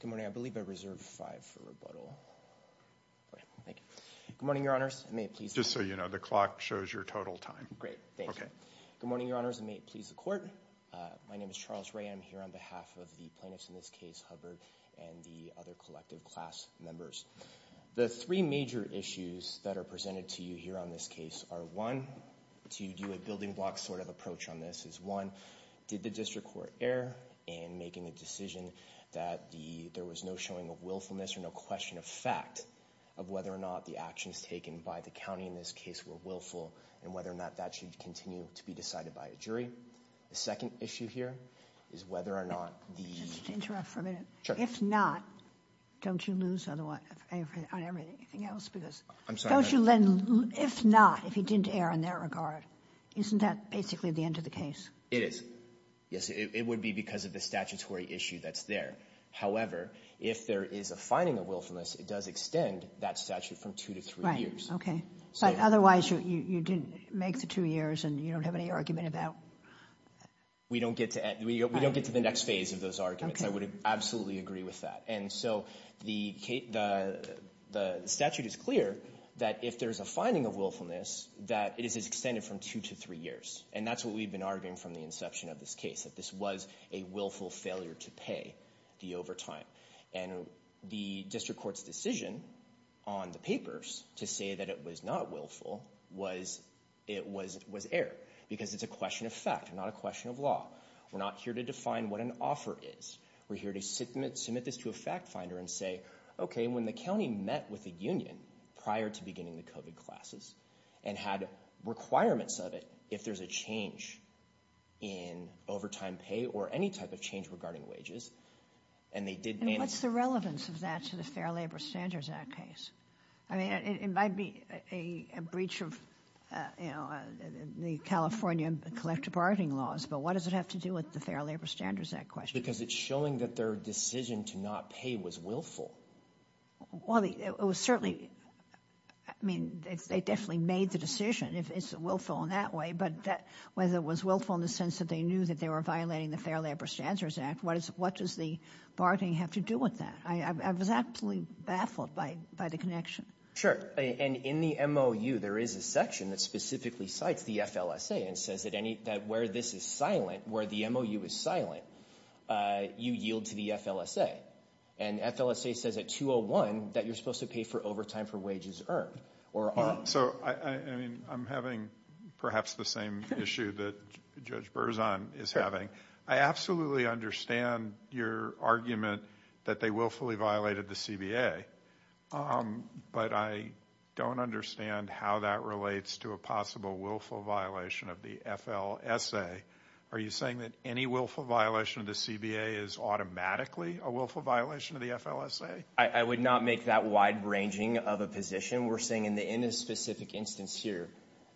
Good morning. I believe I reserved five for rebuttal. Thank you. Good morning, Your Honors. Just so you know, the clock shows your total time. Great. Thank you. Good morning, Your Honors, and may it please the Court. My name is Charles Wray. I'm here on behalf of the plaintiffs in this case, Hubbard, and the other collective class members. The three major issues that are presented to you here on this case are, one, to do a building block sort of approach on this is, one, did the district court err in making a decision that there was no showing of willfulness or no question of fact of whether or not the actions taken by the county in this case were willful, and whether or not that should continue to be decided by a jury. The second issue here is whether or not the— Just interrupt for a minute. If not, don't you lose on everything else? I'm sorry. Don't you lend—if not, if he didn't err in that regard, isn't that basically the end of the case? It is. Yes, it would be because of the statutory issue that's there. However, if there is a finding of willfulness, it does extend that statute from two to three years. Right. Okay. But otherwise, you didn't make the two years and you don't have any argument about— We don't get to the next phase of those arguments. I would absolutely agree with that. And so the statute is clear that if there is a finding of willfulness, that it is extended from two to three years. And that's what we've been arguing from the inception of this case, that this was a willful failure to pay the overtime. And the district court's decision on the papers to say that it was not willful was—it was—it was error, because it's a question of fact, not a question of law. We're not here to define what an offer is. We're here to submit this to a fact finder and say, okay, when the county met with the union prior to beginning the COVID classes and had requirements of it, if there's a change in overtime pay or any type of change regarding wages, and they did— And what's the relevance of that to the Fair Labor Standards Act case? I mean, it might be a breach of, you know, the California collective bargaining laws, but what does it have to do with the Fair Labor Standards Act question? Because it's showing that their decision to not pay was willful. Well, it was certainly—I mean, they definitely made the decision, if it's willful in that way, but whether it was willful in the sense that they knew that they were violating the Fair Labor Standards Act, what does the bargaining have to do with that? I was absolutely baffled by the connection. Sure. And in the MOU, there is a section that specifically cites the FLSA and says that where this is silent, where the MOU is silent, you yield to the FLSA. And FLSA says at 201 that you're supposed to pay for overtime for wages earned or earned. So, I mean, I'm having perhaps the same issue that Judge Berzon is having. I absolutely understand your argument that they willfully violated the CBA, but I don't understand how that relates to a possible willful violation of the FLSA. Are you saying that any willful violation of the CBA is automatically a willful violation of the FLSA? I would not make that wide-ranging of a position. We're saying in this specific instance here,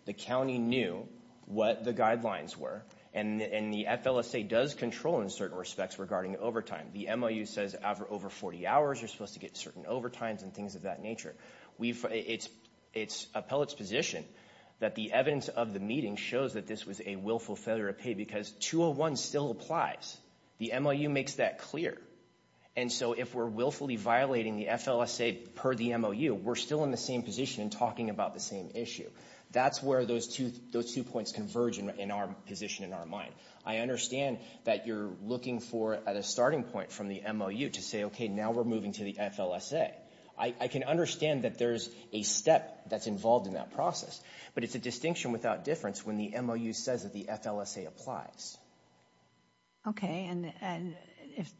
the county knew what the guidelines were, and the FLSA does control in certain respects regarding overtime. The MOU says over 40 hours, you're supposed to get certain overtimes and things of that nature. It's appellate's position that the evidence of the meeting shows that this was a willful failure to pay because 201 still applies. The MOU makes that clear. And so if we're willfully violating the FLSA per the MOU, we're still in the same position talking about the same issue. That's where those two points converge in our position in our mind. I understand that you're looking for at a starting point from the MOU to say, okay, now we're moving to the FLSA. I can understand that there's a step that's involved in that process, but it's a distinction without difference when the MOU says that the FLSA applies. Okay, and if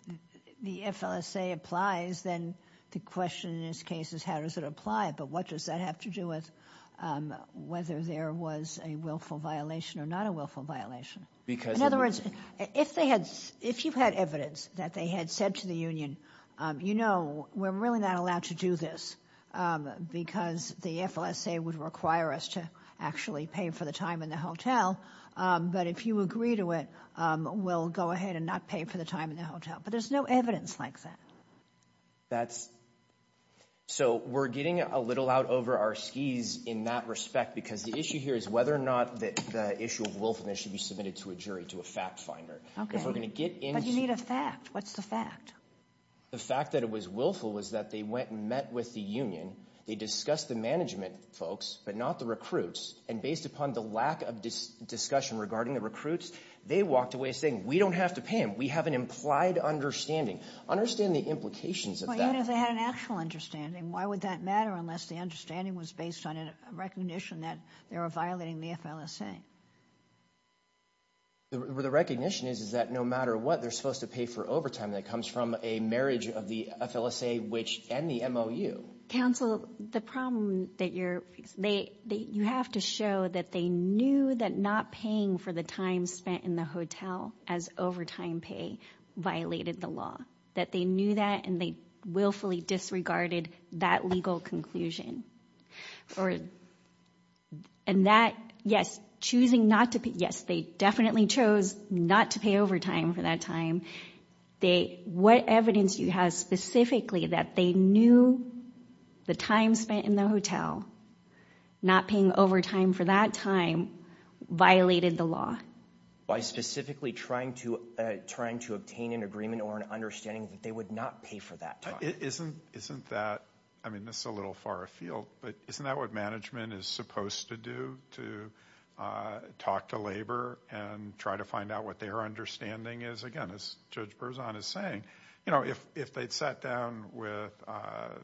the FLSA applies, then the question in this case is how does it apply, but what does that have to do with whether there was a willful violation or not a willful violation? In other words, if you had evidence that they had said to the union, you know, we're really not allowed to do this because the FLSA would require us to actually pay for the time in the hotel. But if you agree to it, we'll go ahead and not pay for the time in the hotel. But there's no evidence like that. So we're getting a little out over our skis in that respect because the issue here is whether or not the issue of willfulness should be submitted to a jury, to a fact finder. But you need a fact. What's the fact? The fact that it was willful was that they went and met with the union. They discussed the management folks, but not the recruits. And based upon the lack of discussion regarding the recruits, they walked away saying we don't have to pay them. We have an implied understanding. Understand the implications of that. Well, even if they had an actual understanding, why would that matter unless the understanding was based on a recognition that they were violating the FLSA? The recognition is, is that no matter what, they're supposed to pay for overtime that comes from a marriage of the FLSA, which and the MOU. Counsel, the problem that you're they you have to show that they knew that not paying for the time spent in the hotel as overtime pay violated the law, that they knew that and they willfully disregarded that legal conclusion. And that, yes, choosing not to pay. Yes, they definitely chose not to pay overtime for that time. They what evidence you have specifically that they knew the time spent in the hotel, not paying overtime for that time, violated the law. By specifically trying to trying to obtain an agreement or an understanding that they would not pay for that time. Isn't isn't that I mean, this is a little far afield, but isn't that what management is supposed to do to talk to labor and try to find out what their understanding is? Again, as Judge Berzon is saying, you know, if if they'd sat down with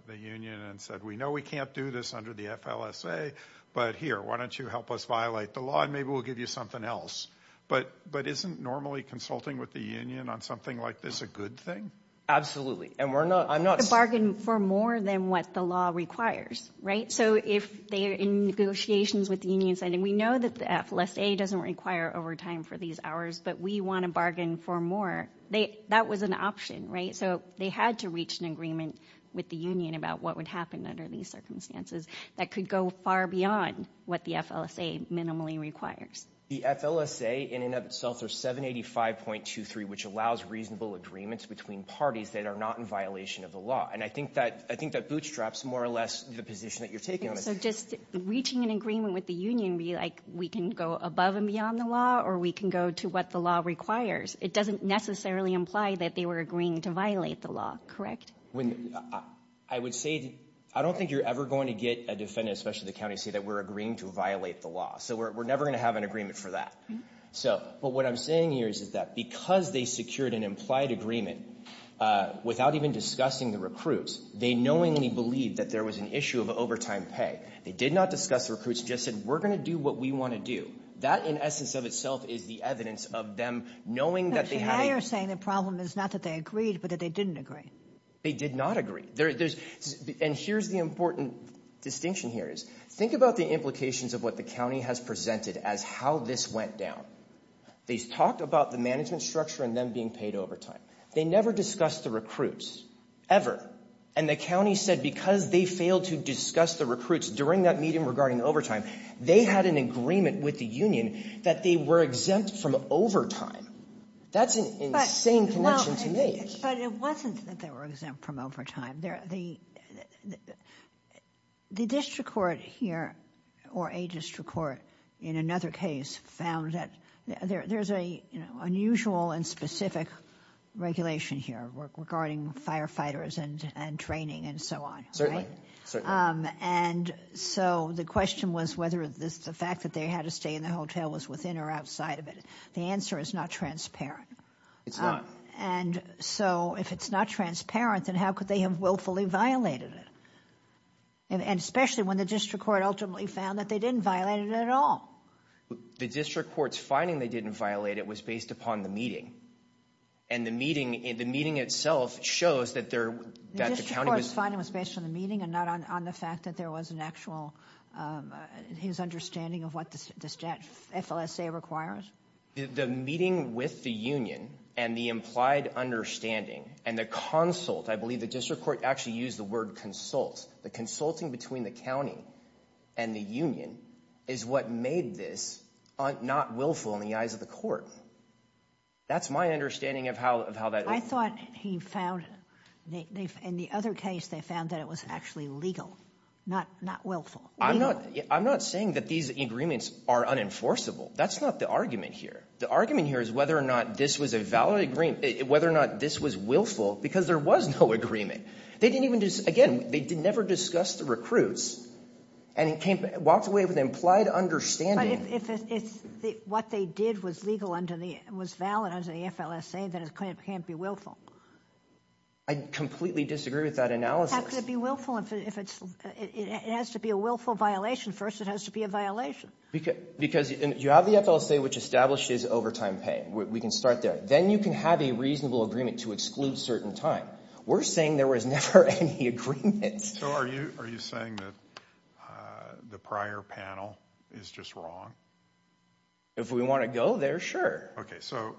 the union and said, we know we can't do this under the FLSA, but here, why don't you help us violate the law and maybe we'll give you something else. But but isn't normally consulting with the union on something like this a good thing? Absolutely. And we're not I'm not a bargain for more than what the law requires. Right. So if they are in negotiations with the unions, I mean, we know that the FLSA doesn't require overtime for these hours, but we want to bargain for more. They that was an option. Right. So they had to reach an agreement with the union about what would happen under these circumstances that could go far beyond what the FLSA minimally requires. The FLSA in and of itself are seven eighty five point two three, which allows reasonable agreements between parties that are not in violation of the law. And I think that I think that bootstraps more or less the position that you're taking. So just reaching an agreement with the union be like we can go above and beyond the law or we can go to what the law requires. It doesn't necessarily imply that they were agreeing to violate the law. Correct. When I would say I don't think you're ever going to get a defendant, especially the county, say that we're agreeing to violate the law. So we're never going to have an agreement for that. So but what I'm saying here is that because they secured an implied agreement without even discussing the recruits, they knowingly believed that there was an issue of overtime pay. They did not discuss recruits, just said we're going to do what we want to do. That in essence of itself is the evidence of them knowing that they are saying the problem is not that they agreed, but that they didn't agree. They did not agree. There's and here's the important distinction here is think about the implications of what the county has presented as how this went down. They talked about the management structure and then being paid overtime. They never discussed the recruits ever. And the county said because they failed to discuss the recruits during that meeting regarding overtime, they had an agreement with the union that they were exempt from overtime. That's an insane connection to make. But it wasn't that they were exempt from overtime. The district court here or a district court in another case found that there's a unusual and specific regulation here regarding firefighters and training and so on. And so the question was whether the fact that they had to stay in the hotel was within or outside of it. The answer is not transparent. It's not. And so if it's not transparent, then how could they have willfully violated it? And especially when the district court ultimately found that they didn't violate it at all. The district court's finding they didn't violate it was based upon the meeting. And the meeting in the meeting itself shows that there that the county was finding was based on the meeting and not on the fact that there was an actual his understanding of what this FLSA requires. The meeting with the union and the implied understanding and the consult, I believe the district court actually used the word consult, the consulting between the county and the union is what made this not willful in the eyes of the court. That's my understanding of how of how that I thought he found in the other case they found that it was actually legal, not not willful. I'm not I'm not saying that these agreements are unenforceable. That's not the argument here. The argument here is whether or not this was a valid agreement, whether or not this was willful because there was no agreement. They didn't even just again, they did never discuss the recruits and it came walked away with implied understanding. If it's what they did was legal under the was valid under the FLSA, then it can't be willful. I completely disagree with that analysis. How could it be willful if it's it has to be a willful violation first, it has to be a violation. Because you have the FLSA, which establishes overtime pay. We can start there. Then you can have a reasonable agreement to exclude certain time. We're saying there was never any agreement. So are you are you saying that the prior panel is just wrong? If we want to go there, sure. OK, so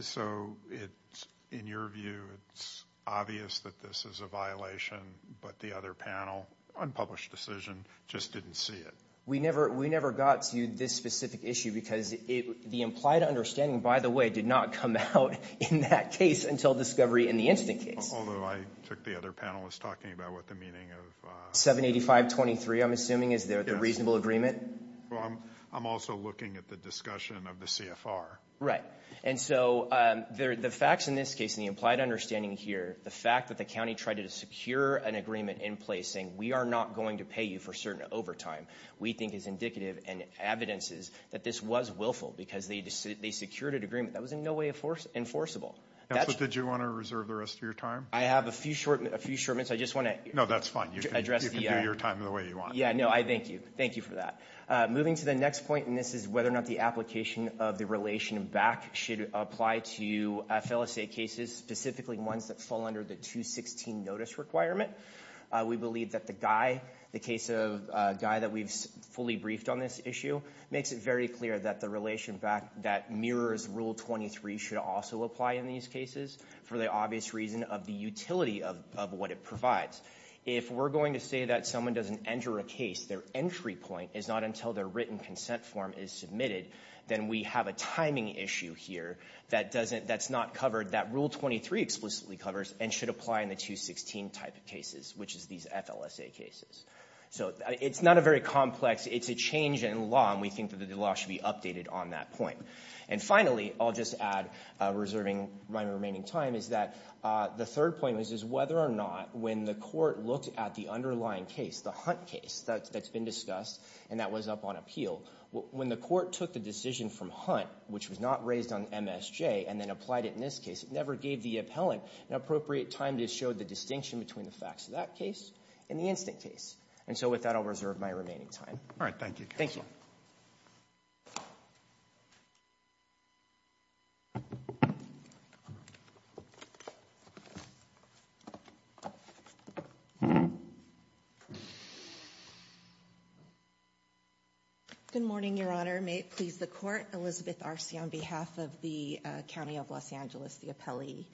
so it's in your view, it's obvious that this is a violation, but the other panel unpublished decision just didn't see it. We never we never got to this specific issue because the implied understanding, by the way, did not come out in that case until discovery in the instant case, although I took the other panelists talking about what the meaning of 785 23, I'm assuming, is there the reasonable agreement? Well, I'm I'm also looking at the discussion of the CFR, right? And so the facts in this case, the implied understanding here, the fact that the county tried to secure an agreement in place saying we are not going to pay you for certain overtime. We think is indicative and evidence is that this was willful because they they secured an agreement that was in no way enforce enforceable. That's what did you want to reserve the rest of your time? I have a few short, a few short minutes. I just want to know. That's fine. You can address your time the way you want. Yeah, no, I thank you. Thank you for that. Moving to the next point, and this is whether or not the application of the relation back should apply to FSA cases, specifically ones that fall under the 216 notice requirement. We believe that the guy, the case of a guy that we've fully briefed on this issue, makes it very clear that the relation back that mirrors Rule 23 should also apply in these cases for the obvious reason of the utility of what it provides. If we're going to say that someone doesn't enter a case, their entry point is not until their written consent form is submitted, then we have a timing issue here that doesn't that's not covered that Rule 23 explicitly covers and should apply in the 216 type of cases, which is these FLSA cases. So it's not a very complex, it's a change in law, and we think that the law should be updated on that point. And finally, I'll just add, reserving my remaining time, is that the third point is whether or not when the court looked at the underlying case, the Hunt case that's been discussed and that was up on appeal, when the court took the decision from Hunt, which was not raised on MSJ, and then applied it in this case, it never gave the appellant an appropriate time to show the distinction between the facts of that case and the instant case. And so with that, I'll reserve my remaining time. All right. Thank you. Thank you. Good morning, Your Honor. May it please the Court. Elizabeth Arce on behalf of the County of Los Angeles, the appellee.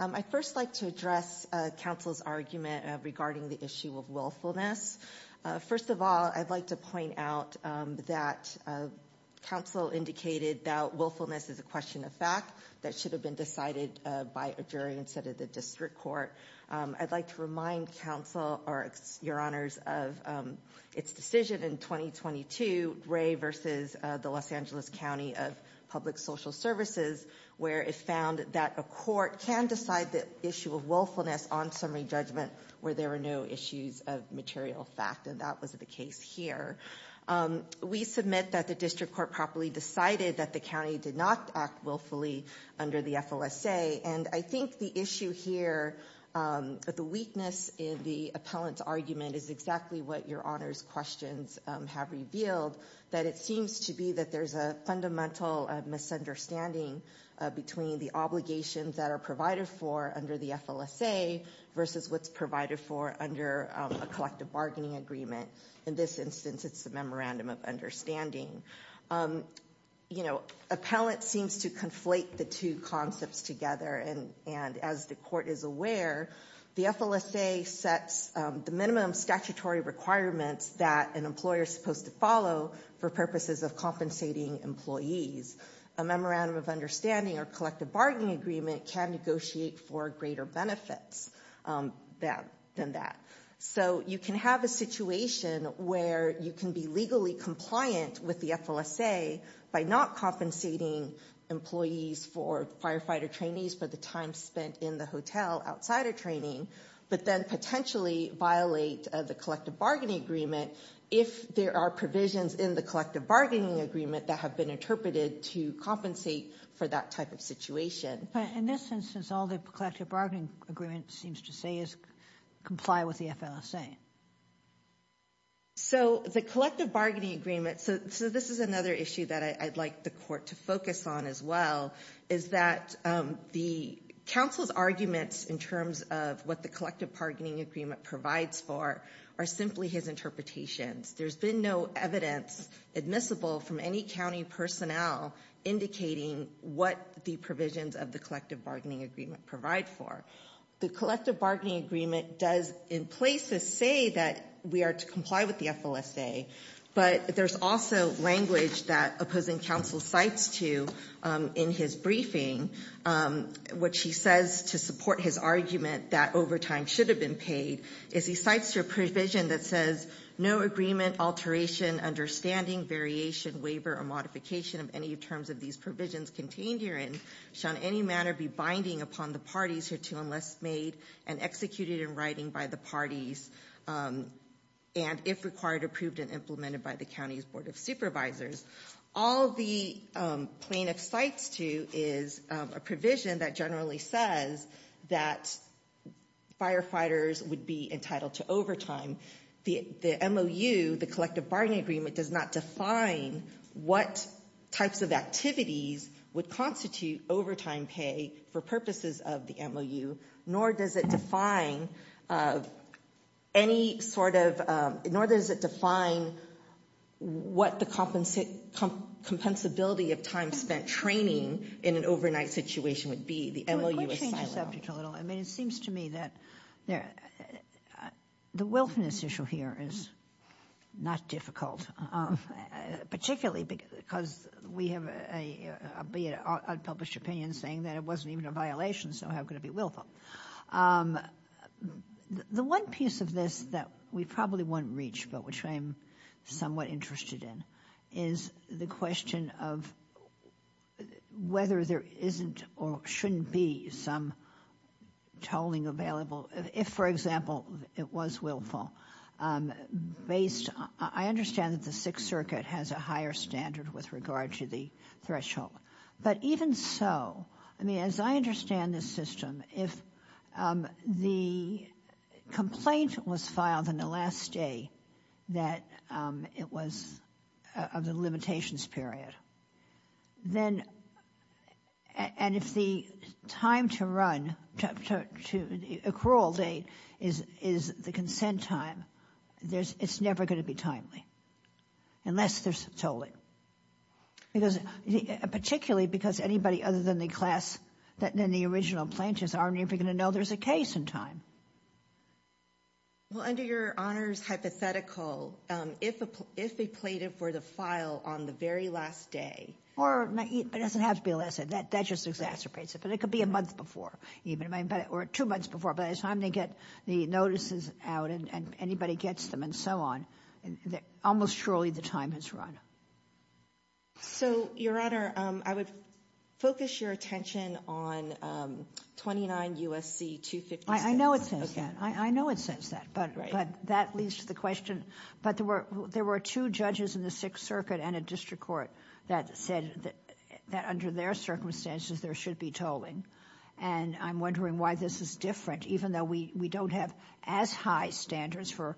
I'd first like to address counsel's argument regarding the issue of willfulness. First of all, I'd like to point out that counsel indicated that willfulness is a question of fact that should have been decided by a jury instead of the district court. I'd like to remind counsel, or Your Honors, of its decision in 2022, Ray versus the Los Angeles County of Public Social Services, where it found that a court can decide the issue of willfulness on summary judgment where there were no issues of material fact, and that was the case here. We submit that the district court properly decided that the county did not act willfully under the FOSA, and I think the issue here, the weakness in the appellant's argument is exactly what Your Honors' questions have revealed, that it seems to be that there's a fundamental misunderstanding between the obligations that are provided for under the FLSA versus what's provided for under a collective bargaining agreement. In this instance, it's a memorandum of understanding. You know, appellant seems to conflate the two concepts together, and as the court is aware, the FLSA sets the minimum statutory requirements that an employer is supposed to follow for purposes of compensating employees. A memorandum of understanding or collective bargaining agreement can negotiate for greater benefits than that. So you can have a situation where you can be legally compliant with the FLSA by not compensating employees for firefighter trainees for the time spent in the hotel outside of training, but then potentially violate the collective bargaining agreement if there are provisions in the collective bargaining agreement that have been interpreted to compensate for that type of situation. In this instance, all the collective bargaining agreement seems to say is comply with the FLSA. So, the collective bargaining agreement, so this is another issue that I'd like the court to focus on as well, is that the counsel's arguments in terms of what the collective bargaining agreement provides for are simply his interpretations. There's been no evidence admissible from any county personnel indicating what the provisions of the collective bargaining agreement provide for. The collective bargaining agreement does in places say that we are to comply with the FLSA, but there's also language that opposing counsel cites to in his briefing, which he says to support his argument that overtime should have been paid, is he cites your provision that says, no agreement, alteration, understanding, variation, waiver, or modification of any terms of these provisions contained herein shall in any manner be binding upon the parties hereto unless made and executed in writing by the parties, and if required, approved and implemented by the county's board of supervisors. All the plaintiff cites to is a provision that generally says that firefighters would be entitled to overtime. The MOU, the collective bargaining agreement, does not define what types of activities would constitute overtime pay for purposes of the MOU, nor does it define any sort of, nor does it define what the compensability of time spent training in an overnight situation would be. The MOU is silent. Let's change the subject a little. I mean, it seems to me that the wilfulness issue here is not difficult, particularly because we have a, albeit unpublished opinion, saying that it wasn't even a violation, so how could it be willful? The one piece of this that we probably won't reach, but which I am somewhat interested in, is the question of whether there isn't or shouldn't be some tolling available if, for example, it was willful. Based, I understand that the Sixth Circuit has a higher standard with regard to the threshold, but even so, I mean, as I understand this system, if the complaint was filed on the last day that it was of the limitations period, then, and if the time to run, to the accrual date is the consent time, it's never going to be timely, unless there's tolling, particularly because anybody other than the class, than the original plaintiffs, aren't even going to know there's a case in time. Well, under your Honor's hypothetical, if a plaintiff were to file on the very last day. Or, it doesn't have to be the last day, that just exacerbates it, but it could be a month before, or two months before, by the time they get the notices out and anybody gets them and so on, almost surely the time has run. So your Honor, I would focus your attention on 29 U.S.C. 256. I know it says that, I know it says that, but that leads to the question, but there were two judges in the Sixth Circuit and a district court that said that under their circumstances, there should be tolling, and I'm wondering why this is different, even though we don't have as high standards for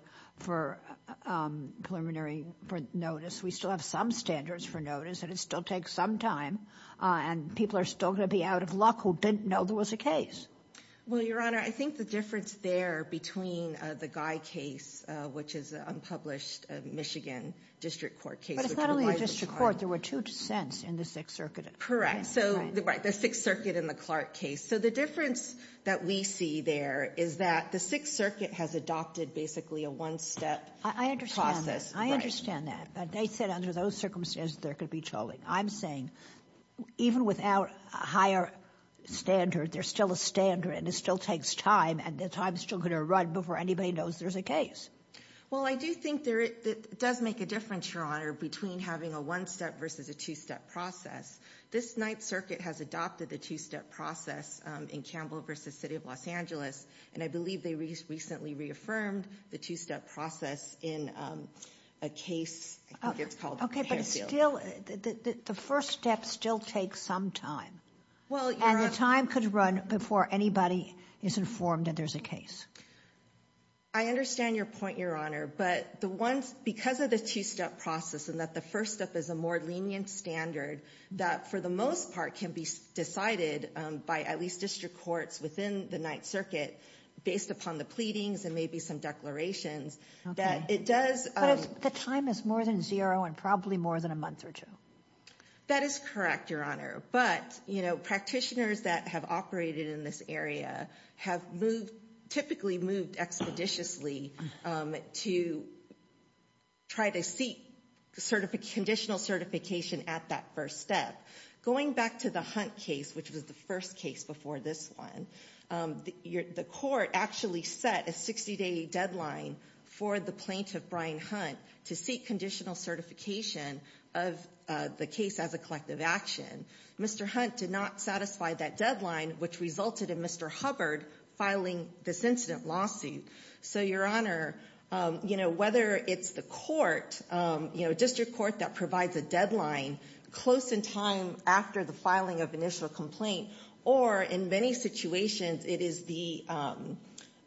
preliminary notice, we still have some standards for notice, and it still takes some time, and people are still going to be out of luck who didn't know there was a case. Well, your Honor, I think the difference there between the Guy case, which is an unpublished Michigan district court case. But it's not only a district court, there were two dissents in the Sixth Circuit. Correct. So the Sixth Circuit and the Clark case. So the difference that we see there is that the Sixth Circuit has adopted basically a one-step process. I understand that. I understand that. But they said under those circumstances, there could be tolling. I'm saying, even without a higher standard, there's still a standard, and it still takes time, and the time is still going to run before anybody knows there's a case. Well, I do think it does make a difference, your Honor, between having a one-step versus a two-step process. This Ninth Circuit has adopted the two-step process in Campbell v. City of Los Angeles, and I believe they recently reaffirmed the two-step process in a case, I think it's called the Canfield. Okay, but it's still, the first step still takes some time, and the time could run before anybody is informed that there's a case. I understand your point, your Honor, but the ones, because of the two-step process and that the first step is a more lenient standard that, for the most part, can be decided by at least district courts within the Ninth Circuit, based upon the pleadings and maybe some declarations, that it does— But the time is more than zero and probably more than a month or two. That is correct, your Honor, but, you know, practitioners that have operated in this area have moved, typically moved expeditiously to try to seek conditional certification at that first step. Going back to the Hunt case, which was the first case before this one, the court actually set a 60-day deadline for the plaintiff, Brian Hunt, to seek conditional certification of the case as a collective action. Mr. Hunt did not satisfy that deadline, which resulted in Mr. Hubbard filing this incident lawsuit. So, your Honor, you know, whether it's the court, you know, district court that provides a deadline close in time after the filing of initial complaint, or in many situations it is the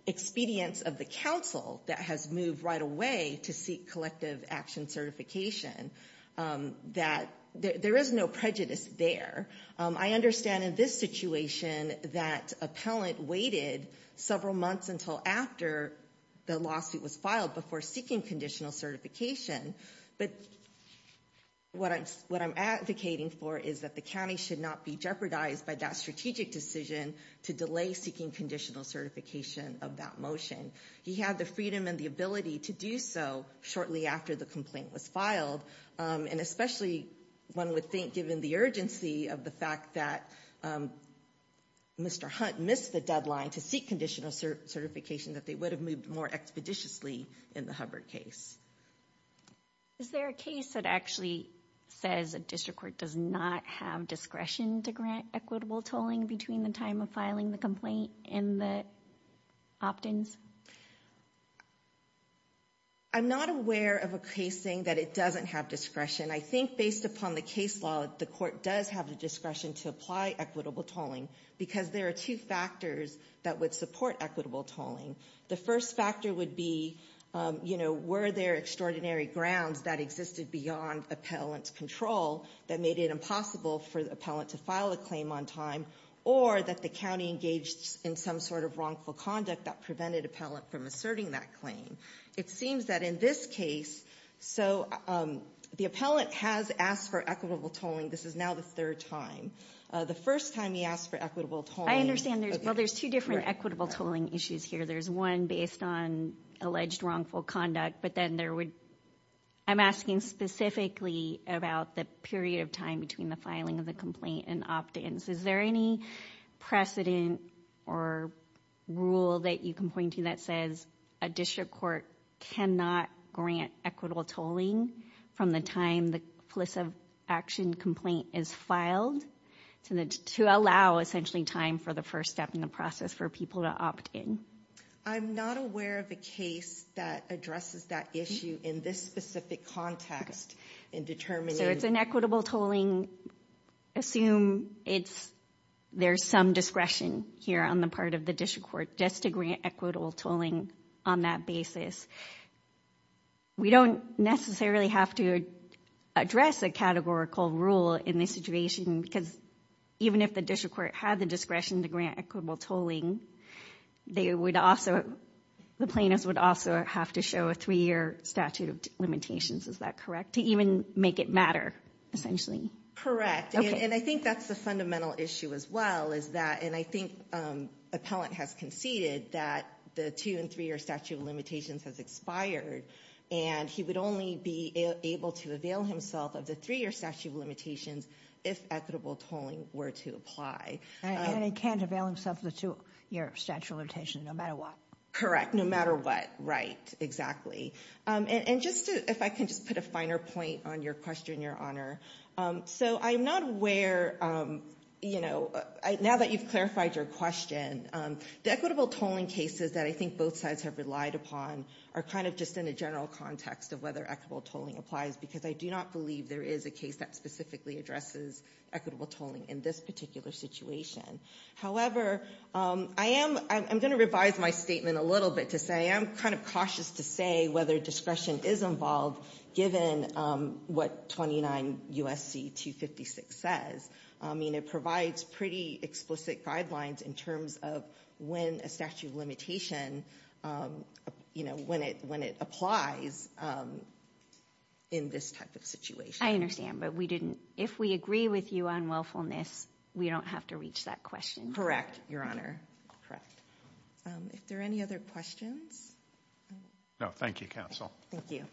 expedience of the counsel that has moved right away to seek collective action of conditional certification, that there is no prejudice there. I understand in this situation that appellant waited several months until after the lawsuit was filed before seeking conditional certification, but what I'm advocating for is that the county should not be jeopardized by that strategic decision to delay seeking conditional certification of that motion. He had the freedom and the ability to do so shortly after the complaint was filed, and especially one would think, given the urgency of the fact that Mr. Hunt missed the deadline to seek conditional certification, that they would have moved more expeditiously in the Hubbard case. Is there a case that actually says a district court does not have discretion to grant equitable tolling between the time of filing the complaint and the opt-ins? I'm not aware of a case saying that it doesn't have discretion. I think based upon the case law, the court does have the discretion to apply equitable tolling because there are two factors that would support equitable tolling. The first factor would be, you know, were there extraordinary grounds that existed beyond appellant control that made it impossible for the appellant to file a claim on time, or that the county engaged in some sort of wrongful conduct that prevented the appellant from asserting that claim. It seems that in this case, so the appellant has asked for equitable tolling. This is now the third time. The first time he asked for equitable tolling... I understand there's two different equitable tolling issues here. There's one based on alleged wrongful conduct, but then there would... I'm asking specifically about the period of time between the filing of the complaint and opt-ins. Is there any precedent or rule that you can point to that says a district court cannot grant equitable tolling from the time the police action complaint is filed to allow essentially time for the first step in the process for people to opt-in? I'm not aware of a case that addresses that issue in this specific context in determining... So it's an equitable tolling, assume there's some discretion here on the part of the district court just to grant equitable tolling on that basis. We don't necessarily have to address a categorical rule in this situation, because even if the plaintiff would also have to show a three-year statute of limitations, is that correct? To even make it matter, essentially? Correct. And I think that's the fundamental issue as well, is that... And I think appellant has conceded that the two and three-year statute of limitations has expired, and he would only be able to avail himself of the three-year statute of limitations if equitable tolling were to apply. And he can't avail himself of the two-year statute of limitations, no matter what. Correct, no matter what, right, exactly. And just if I can just put a finer point on your question, Your Honor. So I'm not aware, you know, now that you've clarified your question, the equitable tolling cases that I think both sides have relied upon are kind of just in a general context of whether equitable tolling applies, because I do not believe there is a case that specifically addresses equitable tolling in this particular situation. However, I am going to revise my statement a little bit to say I am kind of cautious to say whether discretion is involved, given what 29 U.S.C. 256 says. I mean, it provides pretty explicit guidelines in terms of when a statute of limitation, you know, when it applies in this type of situation. I understand, but we didn't, if we agree with you on willfulness, we don't have to reach that question. Correct, Your Honor, correct. If there are any other questions? No, thank you, Counsel. Thank you.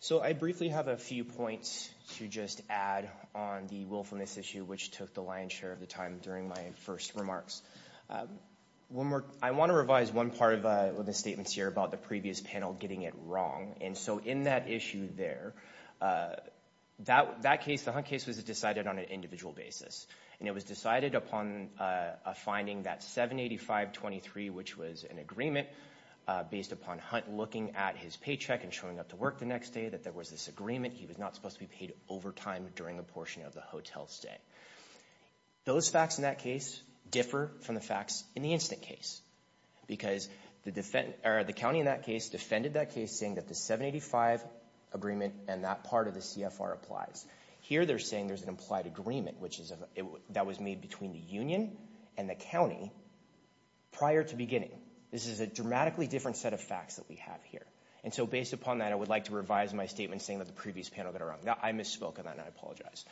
So I briefly have a few points to just add on the willfulness issue, which took the lion's share of the time during my first remarks. I want to revise one part of the statements here about the previous panel getting it wrong. And so in that issue there, that case, the Hunt case, was decided on an individual basis. And it was decided upon a finding that 785.23, which was an agreement based upon Hunt looking at his paycheck and showing up to work the next day that there was this agreement he was not supposed to be paid overtime during a portion of the hotel stay. Those facts in that case differ from the facts in the instant case. Because the county in that case defended that case saying that the 785 agreement and that part of the CFR applies. Here they're saying there's an implied agreement that was made between the union and the county prior to beginning. This is a dramatically different set of facts that we have here. And so based upon that, I would like to revise my statement saying that the previous panel got it wrong. I misspoke on that and I apologize.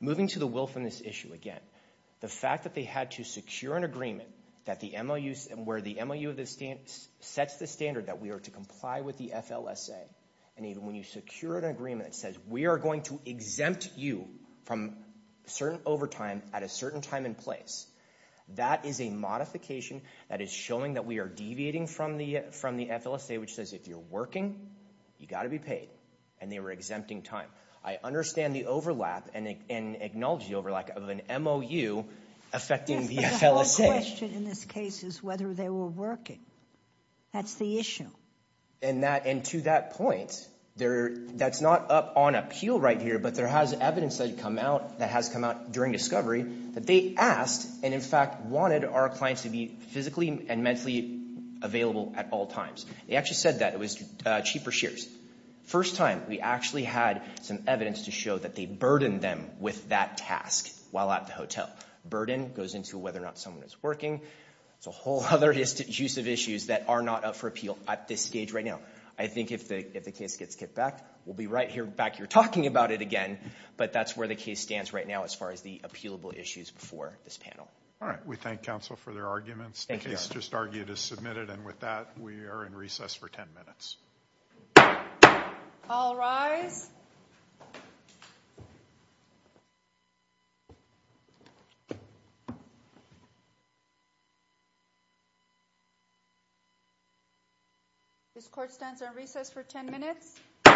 Moving to the willfulness issue again, the fact that they had to secure an agreement that the MOU, where the MOU sets the standard that we are to comply with the FLSA, and even when you secure an agreement that says we are going to exempt you from certain overtime at a certain time and place, that is a modification that is showing that we are deviating from the FLSA, which says if you're working, you've got to be paid. And they were exempting time. I understand the overlap and acknowledge the overlap of an MOU affecting the FLSA. But the whole question in this case is whether they were working. That's the issue. And to that point, that's not up on appeal right here, but there has evidence that has come out during discovery that they asked, and in fact wanted, our clients to be physically and mentally available at all times. They actually said that. It was cheaper shares. First time we actually had some evidence to show that they burdened them with that task while at the hotel. Burden goes into whether or not someone is working. There's a whole other use of issues that are not up for appeal at this stage right now. I think if the case gets kicked back, we'll be right back here talking about it again, but that's where the case stands right now as far as the appealable issues before this panel. All right. We thank counsel for their arguments. The case just argued is submitted. And with that, we are in recess for 10 minutes. All rise. This court stands on recess for 10 minutes. All right.